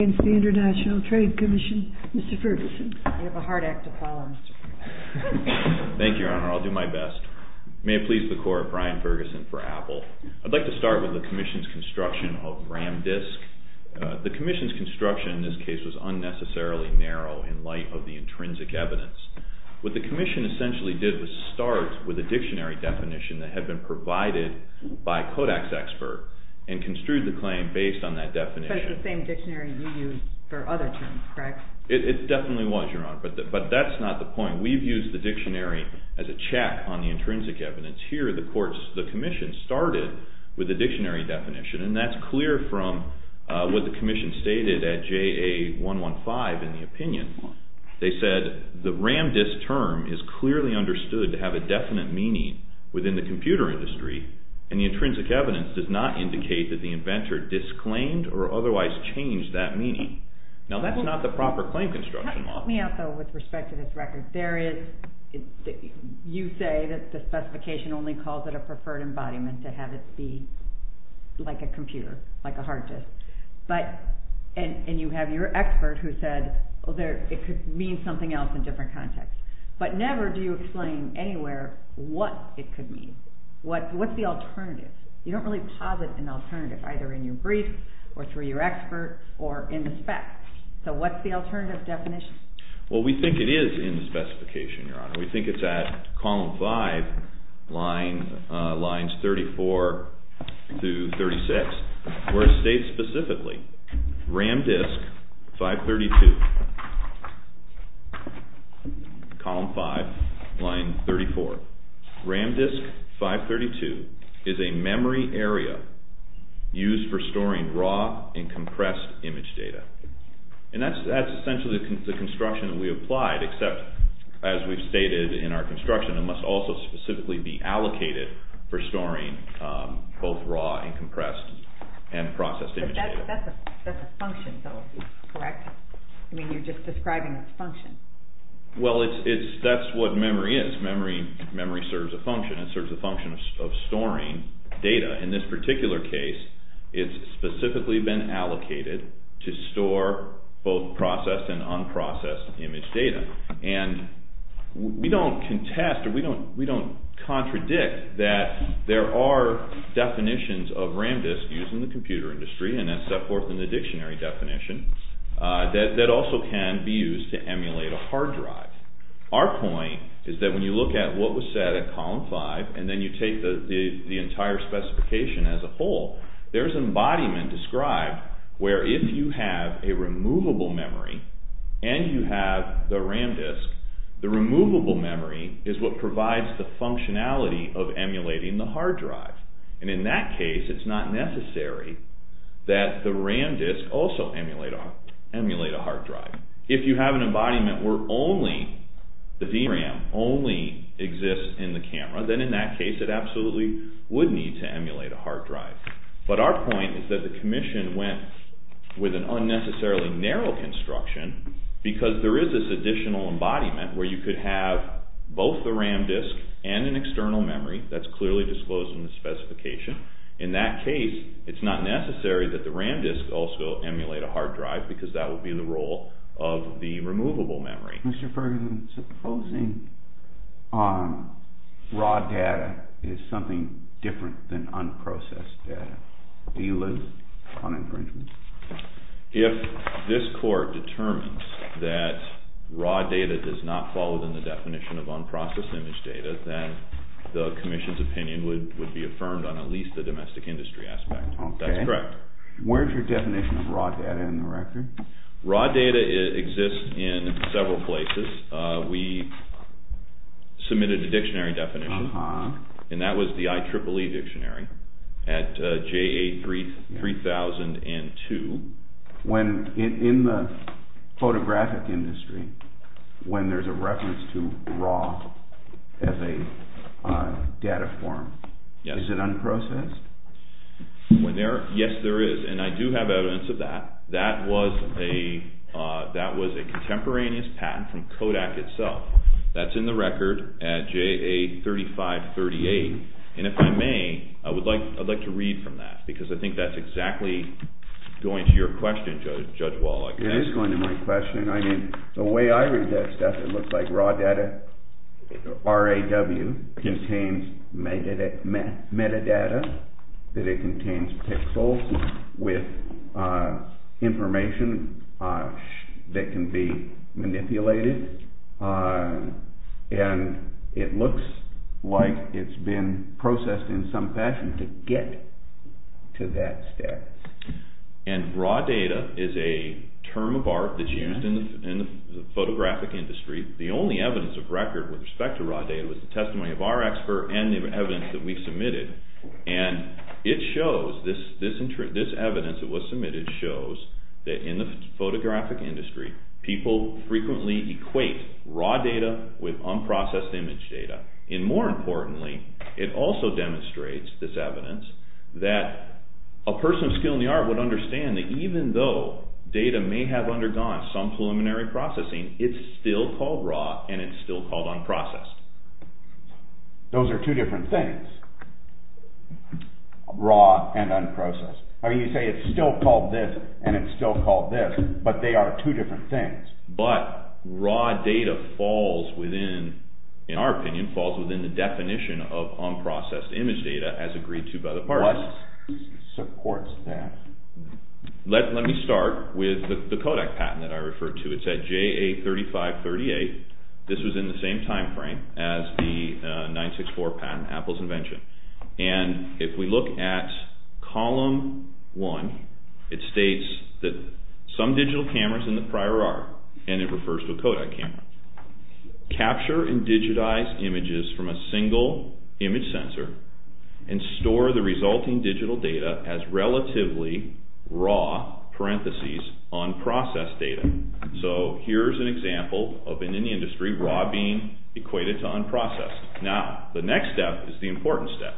International Trade Commission. Mr. Ferguson. I have a hard act to follow. Thank you, Your Honor. I'll do my best. May it please the Court, Brian Ferguson for Apple. I'd like to start with the Commission's construction of RAM disk. The Commission's construction in this case was unnecessarily narrow in light of the intrinsic evidence. What the Commission essentially did was start with a dictionary definition that had been provided by Kodak's expert and construed the claim based on that definition. But it's the same dictionary you used for other terms, correct? Now that's not the proper claim construction law. Help me out though with respect to this record. You say that the specification only calls it a preferred embodiment to have it be like a computer, like a hard disk. And you have your expert who said it could mean something else in a different context. But never do you explain anywhere what it could mean. What's the alternative? You don't really posit an alternative either in your brief or through your expert or in the spec. So what's the alternative definition? Well, we think it is in the specification, Your Honor. We think it's at column 5, lines 34 to 36, where it states specifically RAM disk 532, column 5, line 34. RAM disk 532 is a memory area used for storing raw and compressed image data. And that's essentially the construction we applied, except as we've stated in our construction, it must also specifically be allocated for storing both raw and compressed and processed image data. But that's a function though, correct? I mean, you're just describing a function. Well, that's what memory is. Memory serves a function. It serves a function of storing data. In this particular case, it's specifically been allocated to store both processed and unprocessed image data. And we don't contest or we don't contradict that there are definitions of RAM disk used in the computer industry, and that's set forth in the dictionary definition, that also can be used to emulate a hard drive. Our point is that when you look at what was said at column 5, and then you take the entire specification as a whole, there's embodiment described where if you have a removable memory and you have the RAM disk, the removable memory is what provides the functionality of emulating the hard drive. And in that case, it's not necessary that the RAM disk also emulate a hard drive. If you have an embodiment where only the VRAM only exists in the camera, then in that case, it absolutely would need to emulate a hard drive. But our point is that the commission went with an unnecessarily narrow construction because there is this additional embodiment where you could have both the RAM disk and an external memory that's clearly disclosed in the specification. In that case, it's not necessary that the RAM disk also emulate a hard drive because that would be the role of the removable memory. Mr. Ferguson, supposing raw data is something different than unprocessed data. Do you live on infringement? If this court determines that raw data does not fall within the definition of unprocessed image data, then the commission's opinion would be affirmed on at least the domestic industry aspect. That's correct. Where's your definition of raw data in the record? Raw data exists in several places. We submitted a dictionary definition, and that was the IEEE dictionary at JA 3002. In the photographic industry, when there's a reference to raw as a data form, is it unprocessed? Yes, there is, and I do have evidence of that. That was a contemporaneous patent from Kodak itself. That's in the record at JA 3538. If I may, I would like to read from that because I think that's exactly going to your question, Judge Wallach. It is going to my question. I mean, the way I read that stuff, it looks like raw data, R-A-W, contains metadata, that it contains pixels with information that can be manipulated, and it looks like it's been processed in some fashion to get to that status. Raw data is a term of art that's used in the photographic industry. The only evidence of record with respect to raw data was the testimony of our expert and the evidence that we submitted. And it shows, this evidence that was submitted shows that in the photographic industry, people frequently equate raw data with unprocessed image data. And more importantly, it also demonstrates this evidence that a person of skill in the art would understand that even though data may have undergone some preliminary processing, it's still called raw and it's still called unprocessed. Those are two different things, raw and unprocessed. I mean, you say it's still called this and it's still called this, but they are two different things. But raw data falls within, in our opinion, falls within the definition of unprocessed image data as agreed to by the parties. What supports that? Let me start with the Kodak patent that I referred to. It's at JA3538. This was in the same timeframe as the 964 patent, Apple's invention. And if we look at column one, it states that some digital cameras in the prior are, and it refers to Kodak cameras. Capture and digitize images from a single image sensor and store the resulting digital data as relatively raw, parentheses, unprocessed data. So here's an example of, in any industry, raw being equated to unprocessed. Now, the next step is the important step,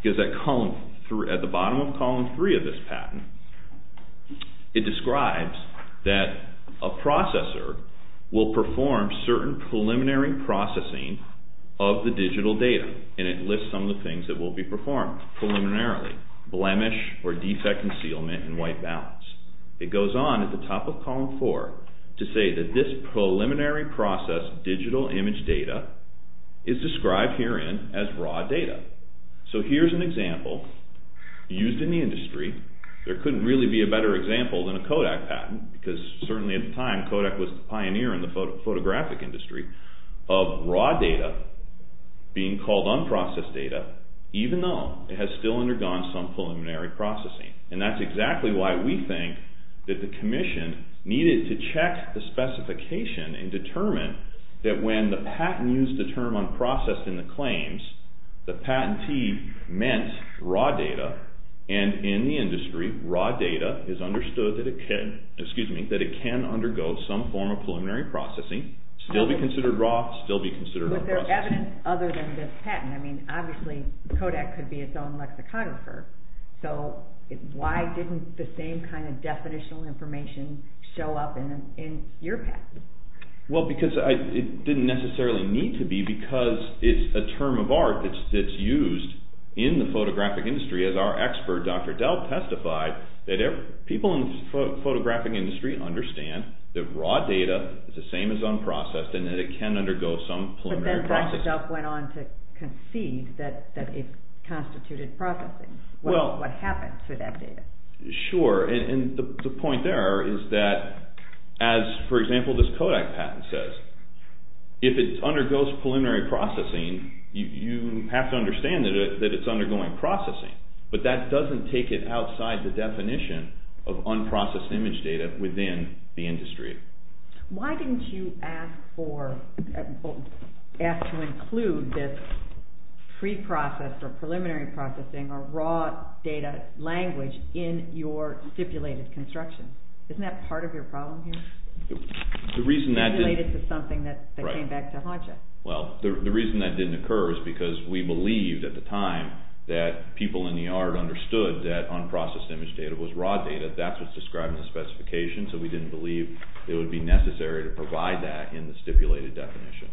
because at the bottom of column three of this patent, it describes that a processor will perform certain preliminary processing of the digital data. And it lists some of the things that will be performed preliminarily, blemish or defect concealment and white balance. It goes on at the top of column four to say that this preliminary process digital image data is described herein as raw data. So here's an example used in the industry. There couldn't really be a better example than a Kodak patent, because certainly at the time, Kodak was the pioneer in the photographic industry, of raw data being called unprocessed data, even though it has still undergone some preliminary processing. And that's exactly why we think that the Commission needed to check the specification and determine that when the patent used the term unprocessed in the claims, the patentee meant raw data, and in the industry, raw data is understood that it can undergo some form of preliminary processing, still be considered raw, still be considered unprocessed. But there's evidence other than this patent. I mean, obviously, Kodak could be its own lexicographer. So why didn't the same kind of definitional information show up in your patent? Well, because it didn't necessarily need to be, because it's a term of art that's used in the photographic industry. As our expert, Dr. Delp, testified that people in the photographic industry understand that raw data is the same as unprocessed, and that it can undergo some preliminary processing. But then Dr. Delp went on to concede that it constituted processing. What happened to that data? Sure, and the point there is that, as, for example, this Kodak patent says, if it undergoes preliminary processing, you have to understand that it's undergoing processing. But that doesn't take it outside the definition of unprocessed image data within the industry. Why didn't you ask to include this pre-processed or preliminary processing or raw data language in your stipulated construction? Isn't that part of your problem here? The reason that didn't… Related to something that came back to haunt you. Well, the reason that didn't occur is because we believed at the time that people in the art understood that unprocessed image data was raw data. That's what's described in the specification, so we didn't believe it would be necessary to provide that in the stipulated definition.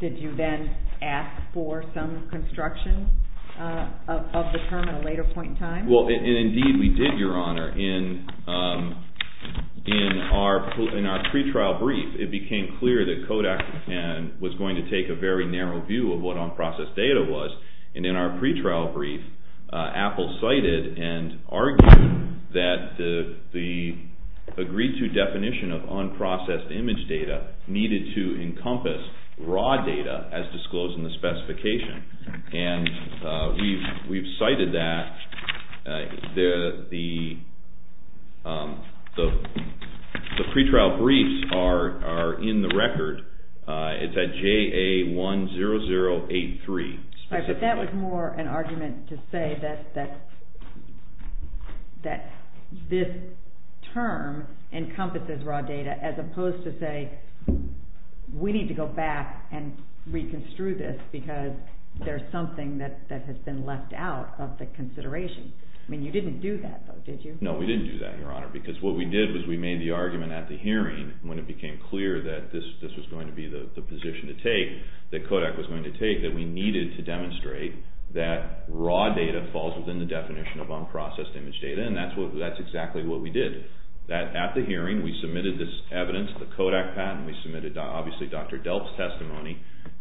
Did you then ask for some construction of the term at a later point in time? Well, and indeed we did, Your Honor. In our pre-trial brief, it became clear that Kodak was going to take a very narrow view of what unprocessed data was. And in our pre-trial brief, Apple cited and argued that the agreed-to definition of unprocessed image data needed to encompass raw data as disclosed in the specification. And we've cited that. The pre-trial briefs are in the record. It's at JA10083. But that was more an argument to say that this term encompasses raw data as opposed to say, we need to go back and reconstruct this because there's something that has been left out of the consideration. I mean, you didn't do that, did you? No, we didn't do that, Your Honor, because what we did was we made the argument at the hearing when it became clear that this was going to be the position to take, that Kodak was going to take, that we needed to demonstrate that raw data falls within the definition of unprocessed image data, and that's exactly what we did. That at the hearing, we submitted this evidence, the Kodak patent. We submitted, obviously, Dr. Delp's testimony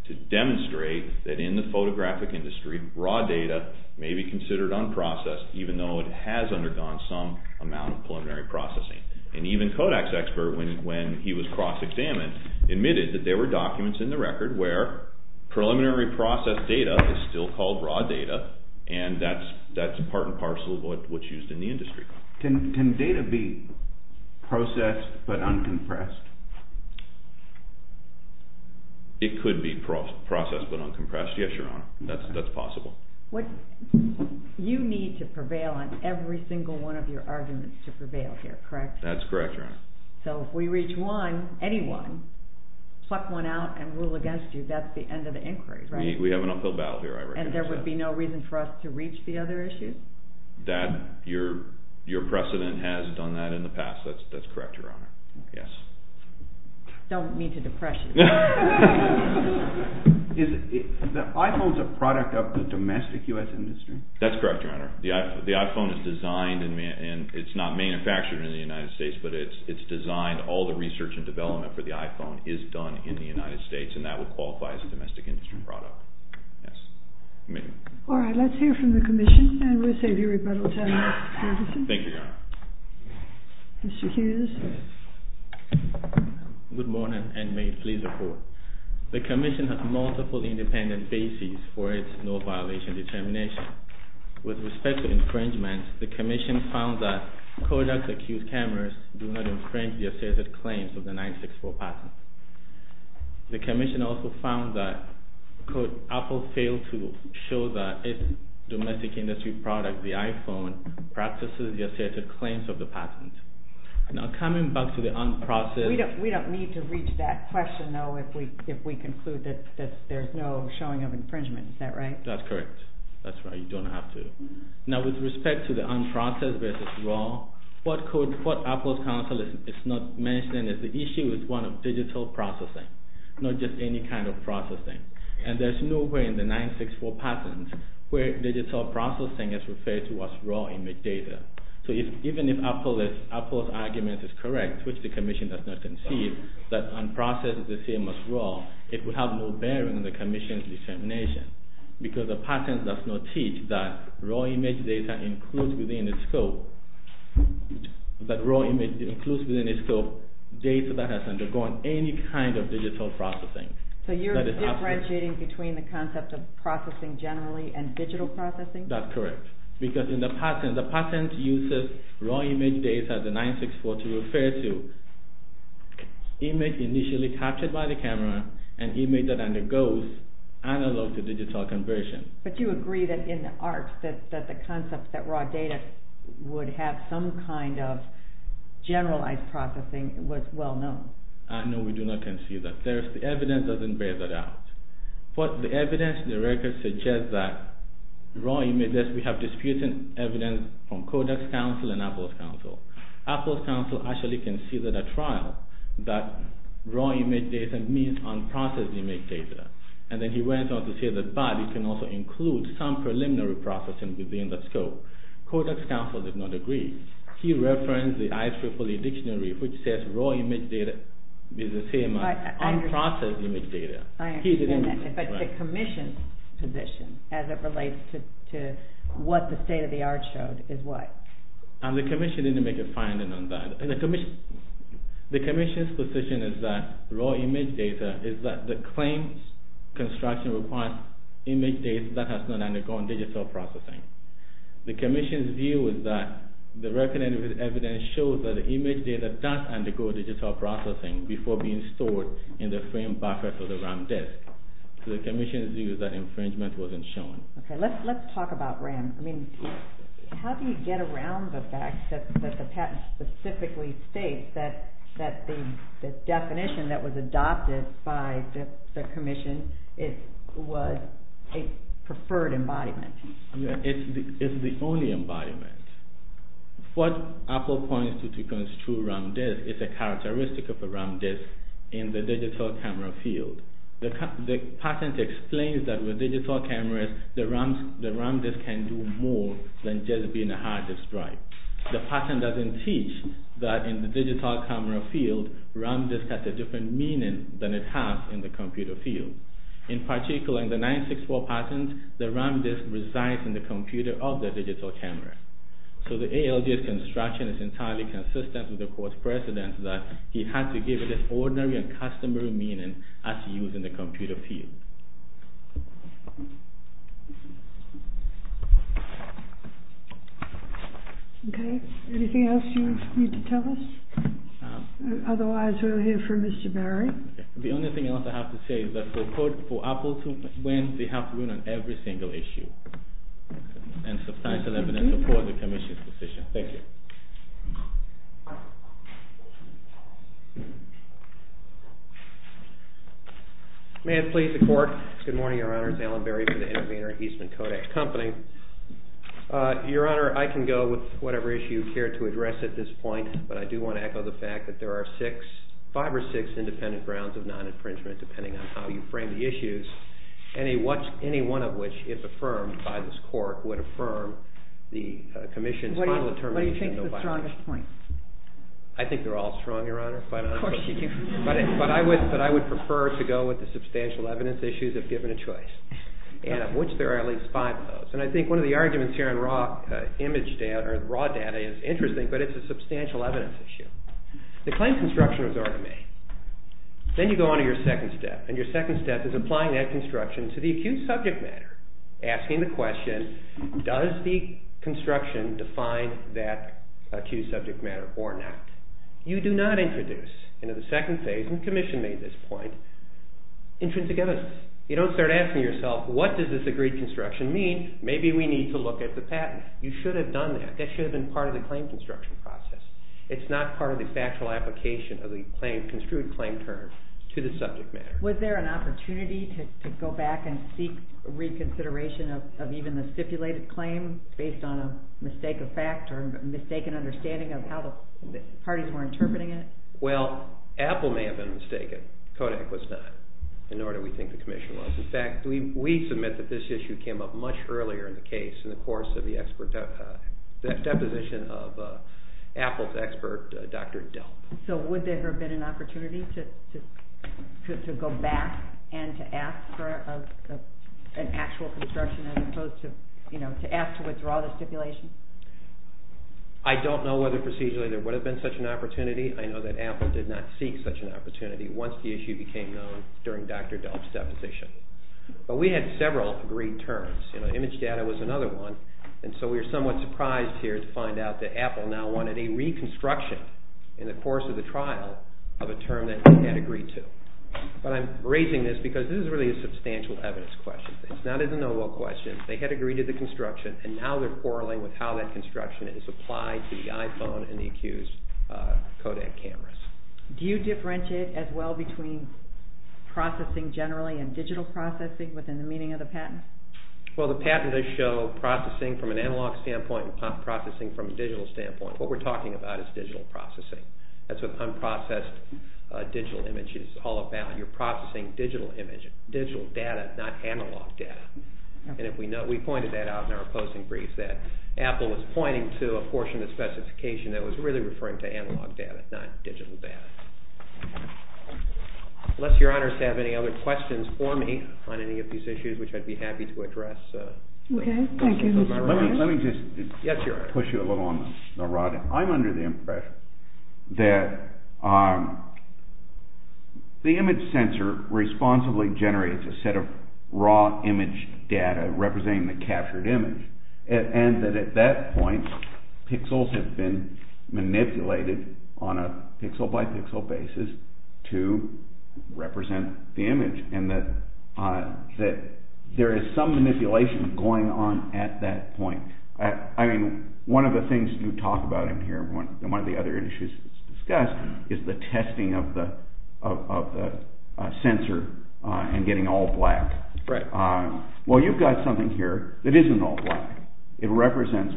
to demonstrate that in the photographic industry, raw data may be considered unprocessed even though it has undergone some amount of preliminary processing. And even Kodak's expert, when he was cross-examined, admitted that there were documents in the record where preliminary processed data is still called raw data, and that's part and parcel of what's used in the industry. Can data be processed but uncompressed? It could be processed but uncompressed, yes, Your Honor. That's possible. You need to prevail on every single one of your arguments to prevail here, correct? That's correct, Your Honor. So if we reach one, any one, pluck one out and rule against you, that's the end of the inquiry, right? We have an uphill battle here, I recognize that. And there would be no reason for us to reach the other issues? Your precedent has done that in the past, that's correct, Your Honor. I don't mean to depress you. Is the iPhone a product of the domestic U.S. industry? That's correct, Your Honor. The iPhone is designed, and it's not manufactured in the United States, but it's designed, all the research and development for the iPhone is done in the United States, and that would qualify as a domestic industry product. All right, let's hear from the Commission, and we'll save you rebuttals, Mr. Davidson. Thank you, Your Honor. Mr. Hughes. Good morning, and may it please the Court. The Commission has multiple independent bases for its no-violation determination. With respect to infringement, the Commission found that Kodak's accused cameras do not infringe the asserted claims of the 964 patent. The Commission also found that, quote, Apple failed to show that its domestic industry product, the iPhone, practices the asserted claims of the patent. Now, coming back to the unprocessed… We don't need to reach that question, though, if we conclude that there's no showing of infringement, is that right? That's correct. That's right, you don't have to. Now, with respect to the unprocessed versus raw, what Apple's counsel is not mentioning is the issue is one of digital processing, not just any kind of processing. And there's no way in the 964 patent where digital processing is referred to as raw image data. So even if Apple's argument is correct, which the Commission does not concede, that unprocessed is the same as raw, it would have no bearing on the Commission's determination. Because the patent does not teach that raw image data includes within its scope data that has undergone any kind of digital processing. So you're differentiating between the concept of processing generally and digital processing? That's correct. Because in the patent, the patent uses raw image data, the 964, to refer to image initially captured by the camera and image that undergoes analog to digital conversion. But you agree that in the arts, that the concept that raw data would have some kind of generalized processing was well known? No, we do not concede that. The evidence doesn't bear that out. But the evidence in the record suggests that we have disputed evidence from Codex counsel and Apple's counsel. Apple's counsel actually conceded at trial that raw image data means unprocessed image data. And then he went on to say that, but it can also include some preliminary processing within the scope. Codex counsel did not agree. He referenced the IEEE dictionary which says raw image data is the same as unprocessed image data. I understand that, but the Commission's position as it relates to what the state of the art showed is what? The Commission didn't make a finding on that. The Commission's position is that raw image data is that the claims construction requires image data that has not undergone digital processing. The Commission's view is that the record evidence shows that image data does undergo digital processing before being stored in the frame back of the RAM disk. The Commission's view is that infringement wasn't shown. Okay, let's talk about RAM. I mean, how do you get around the fact that the patent specifically states that the definition that was adopted by the Commission was a preferred embodiment? It's the only embodiment. What Apple points to to construe RAM disk is a characteristic of a RAM disk in the digital camera field. The patent explains that with digital cameras, the RAM disk can do more than just being a hard disk drive. The patent doesn't teach that in the digital camera field, RAM disk has a different meaning than it has in the computer field. In particular, in the 964 patent, the RAM disk resides in the computer of the digital camera. So the ALG's construction is entirely consistent with the court's precedent that he had to give it an ordinary and customary meaning as used in the computer field. Okay, anything else you need to tell us? Otherwise, we'll hear from Mr. Berry. The only thing else I have to say is that the court for Apple to win, they have to win on every single issue. And substantial evidence supports the Commission's decision. Thank you. May it please the Court. Good morning, Your Honor. It's Alan Berry from the Intervenor and Eastman Kodak Company. Your Honor, I can go with whatever issue you care to address at this point, but I do want to echo the fact that there are five or six independent grounds of non-infringement depending on how you frame the issues. Any one of which is affirmed by this court would affirm the Commission's final determination. What do you think is the strongest point? I think they're all strong, Your Honor. Of course you do. But I would prefer to go with the substantial evidence issues if given a choice. Of which there are at least five of those. And I think one of the arguments here on raw data is interesting, but it's a substantial evidence issue. They claim construction was already made. Then you go on to your second step. And your second step is applying that construction to the acute subject matter. Asking the question, does the construction define that acute subject matter or not? You do not introduce into the second phase, and the Commission made this point, intrinsic evidence. You don't start asking yourself, what does this agreed construction mean? Maybe we need to look at the patent. You should have done that. That should have been part of the claim construction process. It's not part of the factual application of the construed claim term to the subject matter. Was there an opportunity to go back and seek reconsideration of even the stipulated claim based on a mistaken fact or mistaken understanding of how the parties were interpreting it? Well, Apple may have been mistaken. Kodak was not, nor do we think the Commission was. In fact, we submit that this issue came up much earlier in the case in the course of the deposition of Apple's expert, Dr. Delp. So would there have been an opportunity to go back and to ask for an actual construction as opposed to, you know, to ask to withdraw the stipulation? I don't know whether procedurally there would have been such an opportunity. I know that Apple did not seek such an opportunity once the issue became known during Dr. Delp's deposition. But we had several agreed terms. You know, image data was another one. And so we were somewhat surprised here to find out that Apple now wanted a reconstruction in the course of the trial of a term that they had agreed to. But I'm raising this because this is really a substantial evidence question. It's not a de novo question. They had agreed to the construction, and now they're quarreling with how that construction is applied to the iPhone and the accused Kodak cameras. Do you differentiate as well between processing generally and digital processing within the meaning of the patent? Well, the patent does show processing from an analog standpoint and processing from a digital standpoint. What we're talking about is digital processing. That's what unprocessed digital image is all about. You're processing digital image, digital data, not analog data. And we pointed that out in our posting brief that Apple was pointing to a portion of the specification that was really referring to analog data, not digital data. Unless your honors have any other questions for me on any of these issues, which I'd be happy to address. Okay. Thank you, Mr. Roberts. Let me just push you a little on the rod. I'm under the impression that the image sensor responsibly generates a set of raw image data representing the captured image. And that at that point, pixels have been manipulated on a pixel-by-pixel basis to represent the image. And that there is some manipulation going on at that point. I mean, one of the things you talk about in here and one of the other issues discussed is the testing of the sensor and getting all black. Right. Well, you've got something here that isn't all black. It represents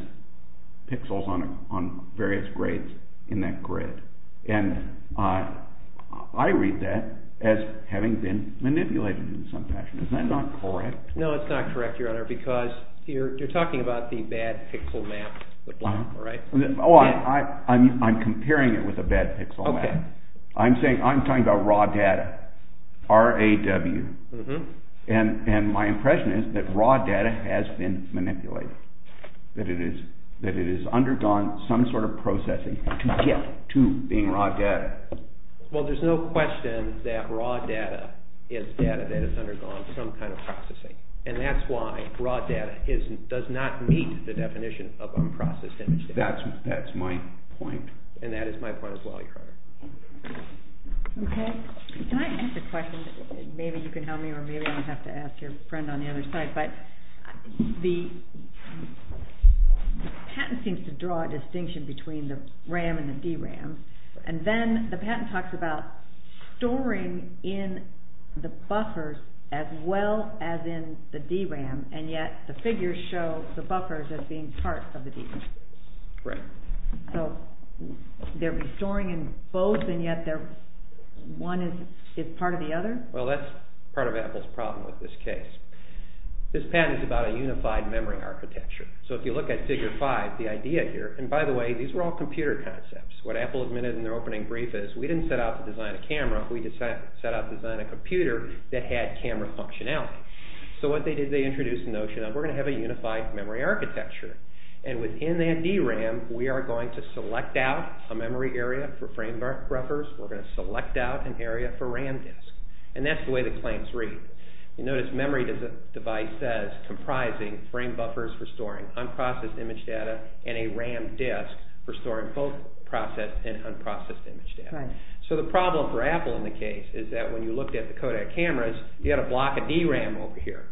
pixels on various grades in that grid. And I read that as having been manipulated in some fashion. Is that not correct? No, it's not correct, your honor, because you're talking about the bad pixel map with black. Oh, I'm comparing it with a bad pixel map. I'm talking about raw data, R-A-W. And my impression is that raw data has been manipulated. That it has undergone some sort of processing to get to being raw data. Well, there's no question that raw data is data that has undergone some kind of processing. And that's why raw data does not meet the definition of unprocessed image data. That's my point. And that is my point as well, your honor. Okay. Can I ask a question? Maybe you can help me or maybe I'm going to have to ask your friend on the other side. The patent seems to draw a distinction between the RAM and the DRAM. And then the patent talks about storing in the buffers as well as in the DRAM. And yet the figures show the buffers as being part of the DRAM. Right. So they're storing in both and yet one is part of the other? Well, that's part of Apple's problem with this case. This patent is about a unified memory architecture. So if you look at figure five, the idea here, and by the way, these were all computer concepts. What Apple admitted in their opening brief is we didn't set out to design a camera. We set out to design a computer that had camera functionality. So what they did, they introduced the notion of we're going to have a unified memory architecture. And within that DRAM, we are going to select out a memory area for frame buffers. We're going to select out an area for RAM disks. And that's the way the claims read. You notice memory device says comprising frame buffers for storing unprocessed image data and a RAM disk for storing both processed and unprocessed image data. Right. So the problem for Apple in the case is that when you looked at the Kodak cameras, you had a block of DRAM over here,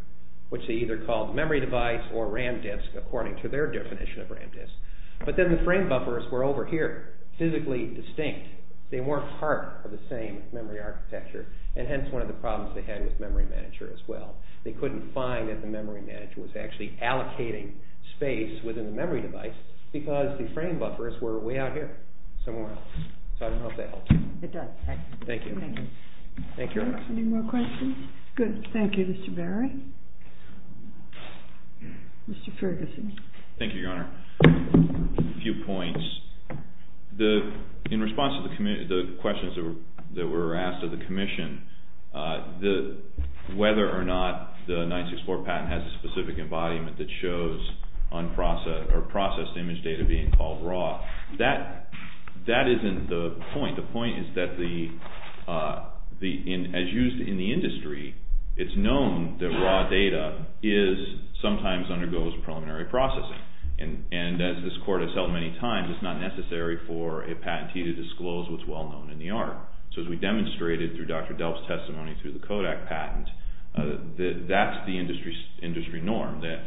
which they either called memory device or RAM disk according to their definition of RAM disk. But then the frame buffers were over here, physically distinct. They weren't part of the same memory architecture. And hence one of the problems they had with memory manager as well. They couldn't find that the memory manager was actually allocating space within the memory device because the frame buffers were way out here somewhere else. So I don't know if that helps. It does. Thank you. Thank you. Any more questions? Good. Thank you, Mr. Berry. Mr. Ferguson. Thank you, Your Honor. A few points. In response to the questions that were asked of the commission, whether or not the 964 patent has a specific embodiment that shows unprocessed or processed image data being called raw, that isn't the point. The point is that as used in the industry, it's known that raw data sometimes undergoes preliminary processing. And as this Court has held many times, it's not necessary for a patentee to disclose what's well known in the art. So as we demonstrated through Dr. Delp's testimony through the Kodak patent, that's the industry norm, that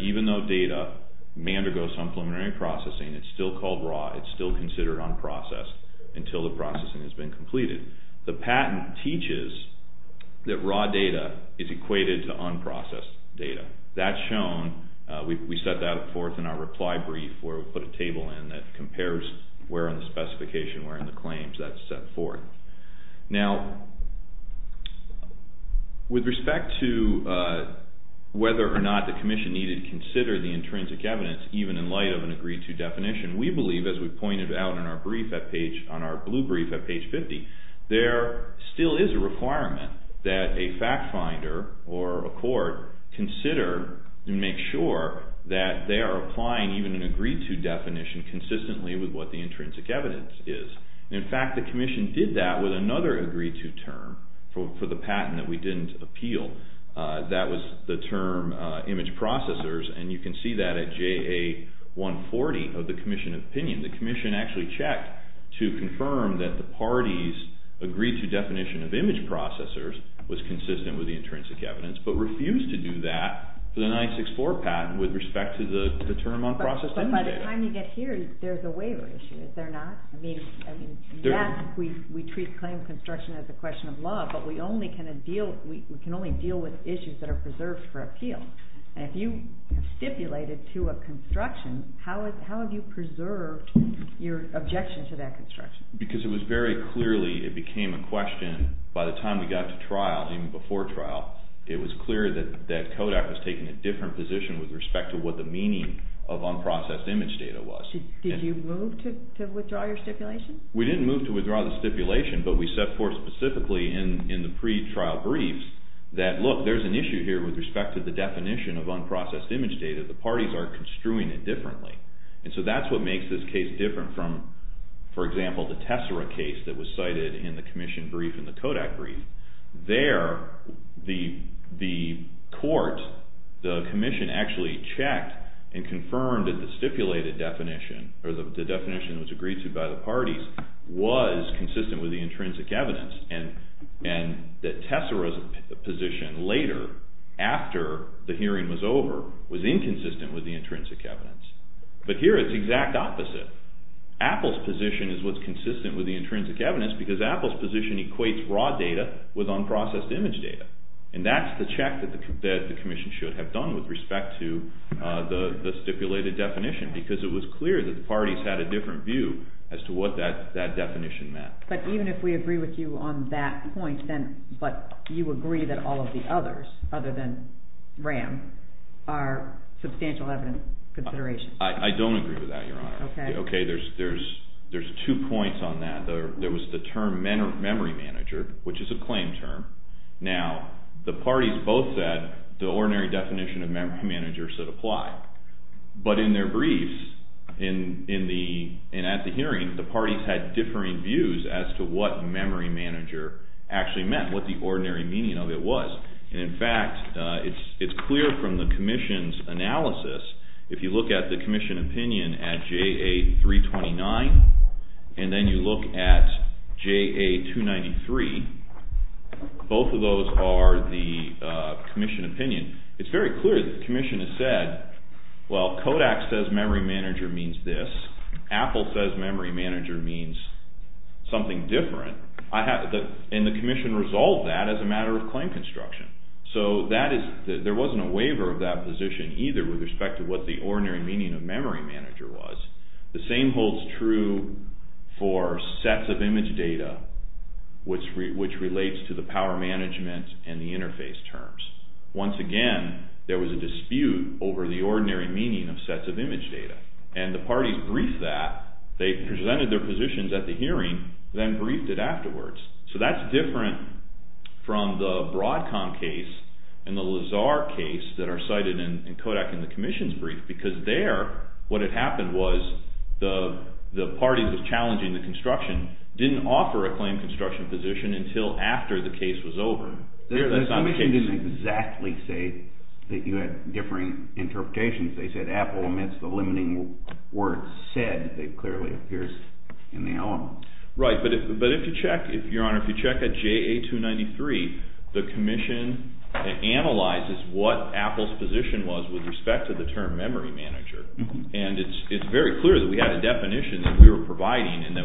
even though data may undergo some preliminary processing, it's still called raw, it's still considered unprocessed until the processing has been completed. The patent teaches that raw data is equated to unprocessed data. That's shown. We set that forth in our reply brief where we put a table in that compares where in the specification, where in the claims, that's set forth. Now, with respect to whether or not the commission needed to consider the intrinsic evidence, even in light of an agreed-to definition, we believe, as we pointed out on our blue brief at page 50, there still is a requirement that a fact finder or a court consider and make sure that they are applying even an agreed-to definition consistently with what the intrinsic evidence is. In fact, the commission did that with another agreed-to term for the patent that we didn't appeal. That was the term image processors, and you can see that at JA 140 of the commission opinion. The commission actually checked to confirm that the party's agreed-to definition of image processors was consistent with the intrinsic evidence, but refused to do that for the 964 patent with respect to the term unprocessed image data. But by the time you get here, there's a waiver issue, is there not? I mean, yes, we treat claim construction as a question of law, but we can only deal with issues that are preserved for appeal. And if you stipulated to a construction, how have you preserved your objection to that construction? Because it was very clearly, it became a question by the time we got to trial, even before trial, it was clear that Kodak was taking a different position with respect to what the meaning of unprocessed image data was. Did you move to withdraw your stipulation? We didn't move to withdraw the stipulation, but we set forth specifically in the pre-trial briefs that, look, there's an issue here with respect to the definition of unprocessed image data. The parties are construing it differently. And so that's what makes this case different from, for example, the Tessera case that was cited in the commission brief and the Kodak brief. There, the court, the commission actually checked and confirmed that the stipulated definition, or the definition that was agreed to by the parties, was consistent with the intrinsic evidence. And that Tessera's position later, after the hearing was over, was inconsistent with the intrinsic evidence. But here it's the exact opposite. Apple's position is what's consistent with the intrinsic evidence because Apple's position equates raw data with unprocessed image data. And that's the check that the commission should have done with respect to the stipulated definition because it was clear that the parties had a different view as to what that definition meant. But even if we agree with you on that point, but you agree that all of the others, other than RAM, are substantial evidence considerations? I don't agree with that, Your Honor. Okay. There's two points on that. There was the term memory manager, which is a claim term. Now, the parties both said the ordinary definition of memory manager should apply. But in their briefs, and at the hearing, the parties had differing views as to what memory manager actually meant, what the ordinary meaning of it was. And, in fact, it's clear from the commission's analysis, if you look at the commission opinion at JA329 and then you look at JA293, both of those are the commission opinion. It's very clear the commission has said, well, Kodak says memory manager means this. Apple says memory manager means something different. And the commission resolved that as a matter of claim construction. So there wasn't a waiver of that position either with respect to what the ordinary meaning of memory manager was. The same holds true for sets of image data, which relates to the power management and the interface terms. Once again, there was a dispute over the ordinary meaning of sets of image data. And the parties briefed that. They presented their positions at the hearing, then briefed it afterwards. So that's different from the Broadcom case and the Lazar case that are cited in Kodak in the commission's brief, because there what had happened was the parties that were challenging the construction didn't offer a claim construction position until after the case was over. The commission didn't exactly say that you had differing interpretations. They said Apple, amidst the limiting words said, it clearly appears in the element. Right, but if you check at JA293, the commission analyzes what Apple's position was with respect to the term memory manager. And it's very clear that we had a definition that we were providing and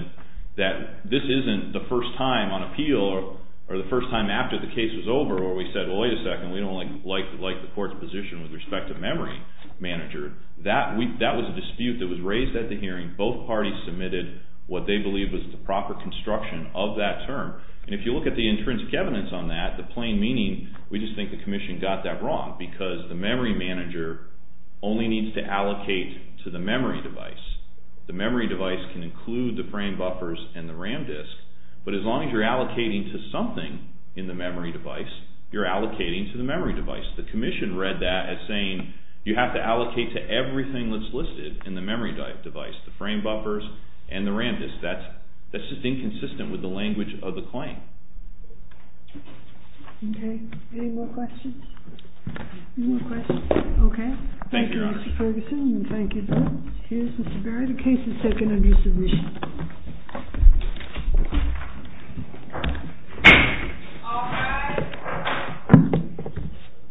that this isn't the first time on appeal or the first time after the case was over where we said, wait a second, we don't like the court's position with respect to memory manager. That was a dispute that was raised at the hearing. Both parties submitted what they believed was the proper construction of that term. And if you look at the intrinsic evidence on that, the plain meaning, we just think the commission got that wrong because the memory manager only needs to allocate to the memory device. The memory device can include the frame buffers and the RAM disk. But as long as you're allocating to something in the memory device, you're allocating to the memory device. The commission read that as saying you have to allocate to everything that's listed in the memory device, the frame buffers and the RAM disk. That's just inconsistent with the language of the claim. Okay. Any more questions? Any more questions? Okay. Thank you, Your Honor. Thank you, Mr. Ferguson. Thank you. Here's Mr. Berry. The case is taken under submission.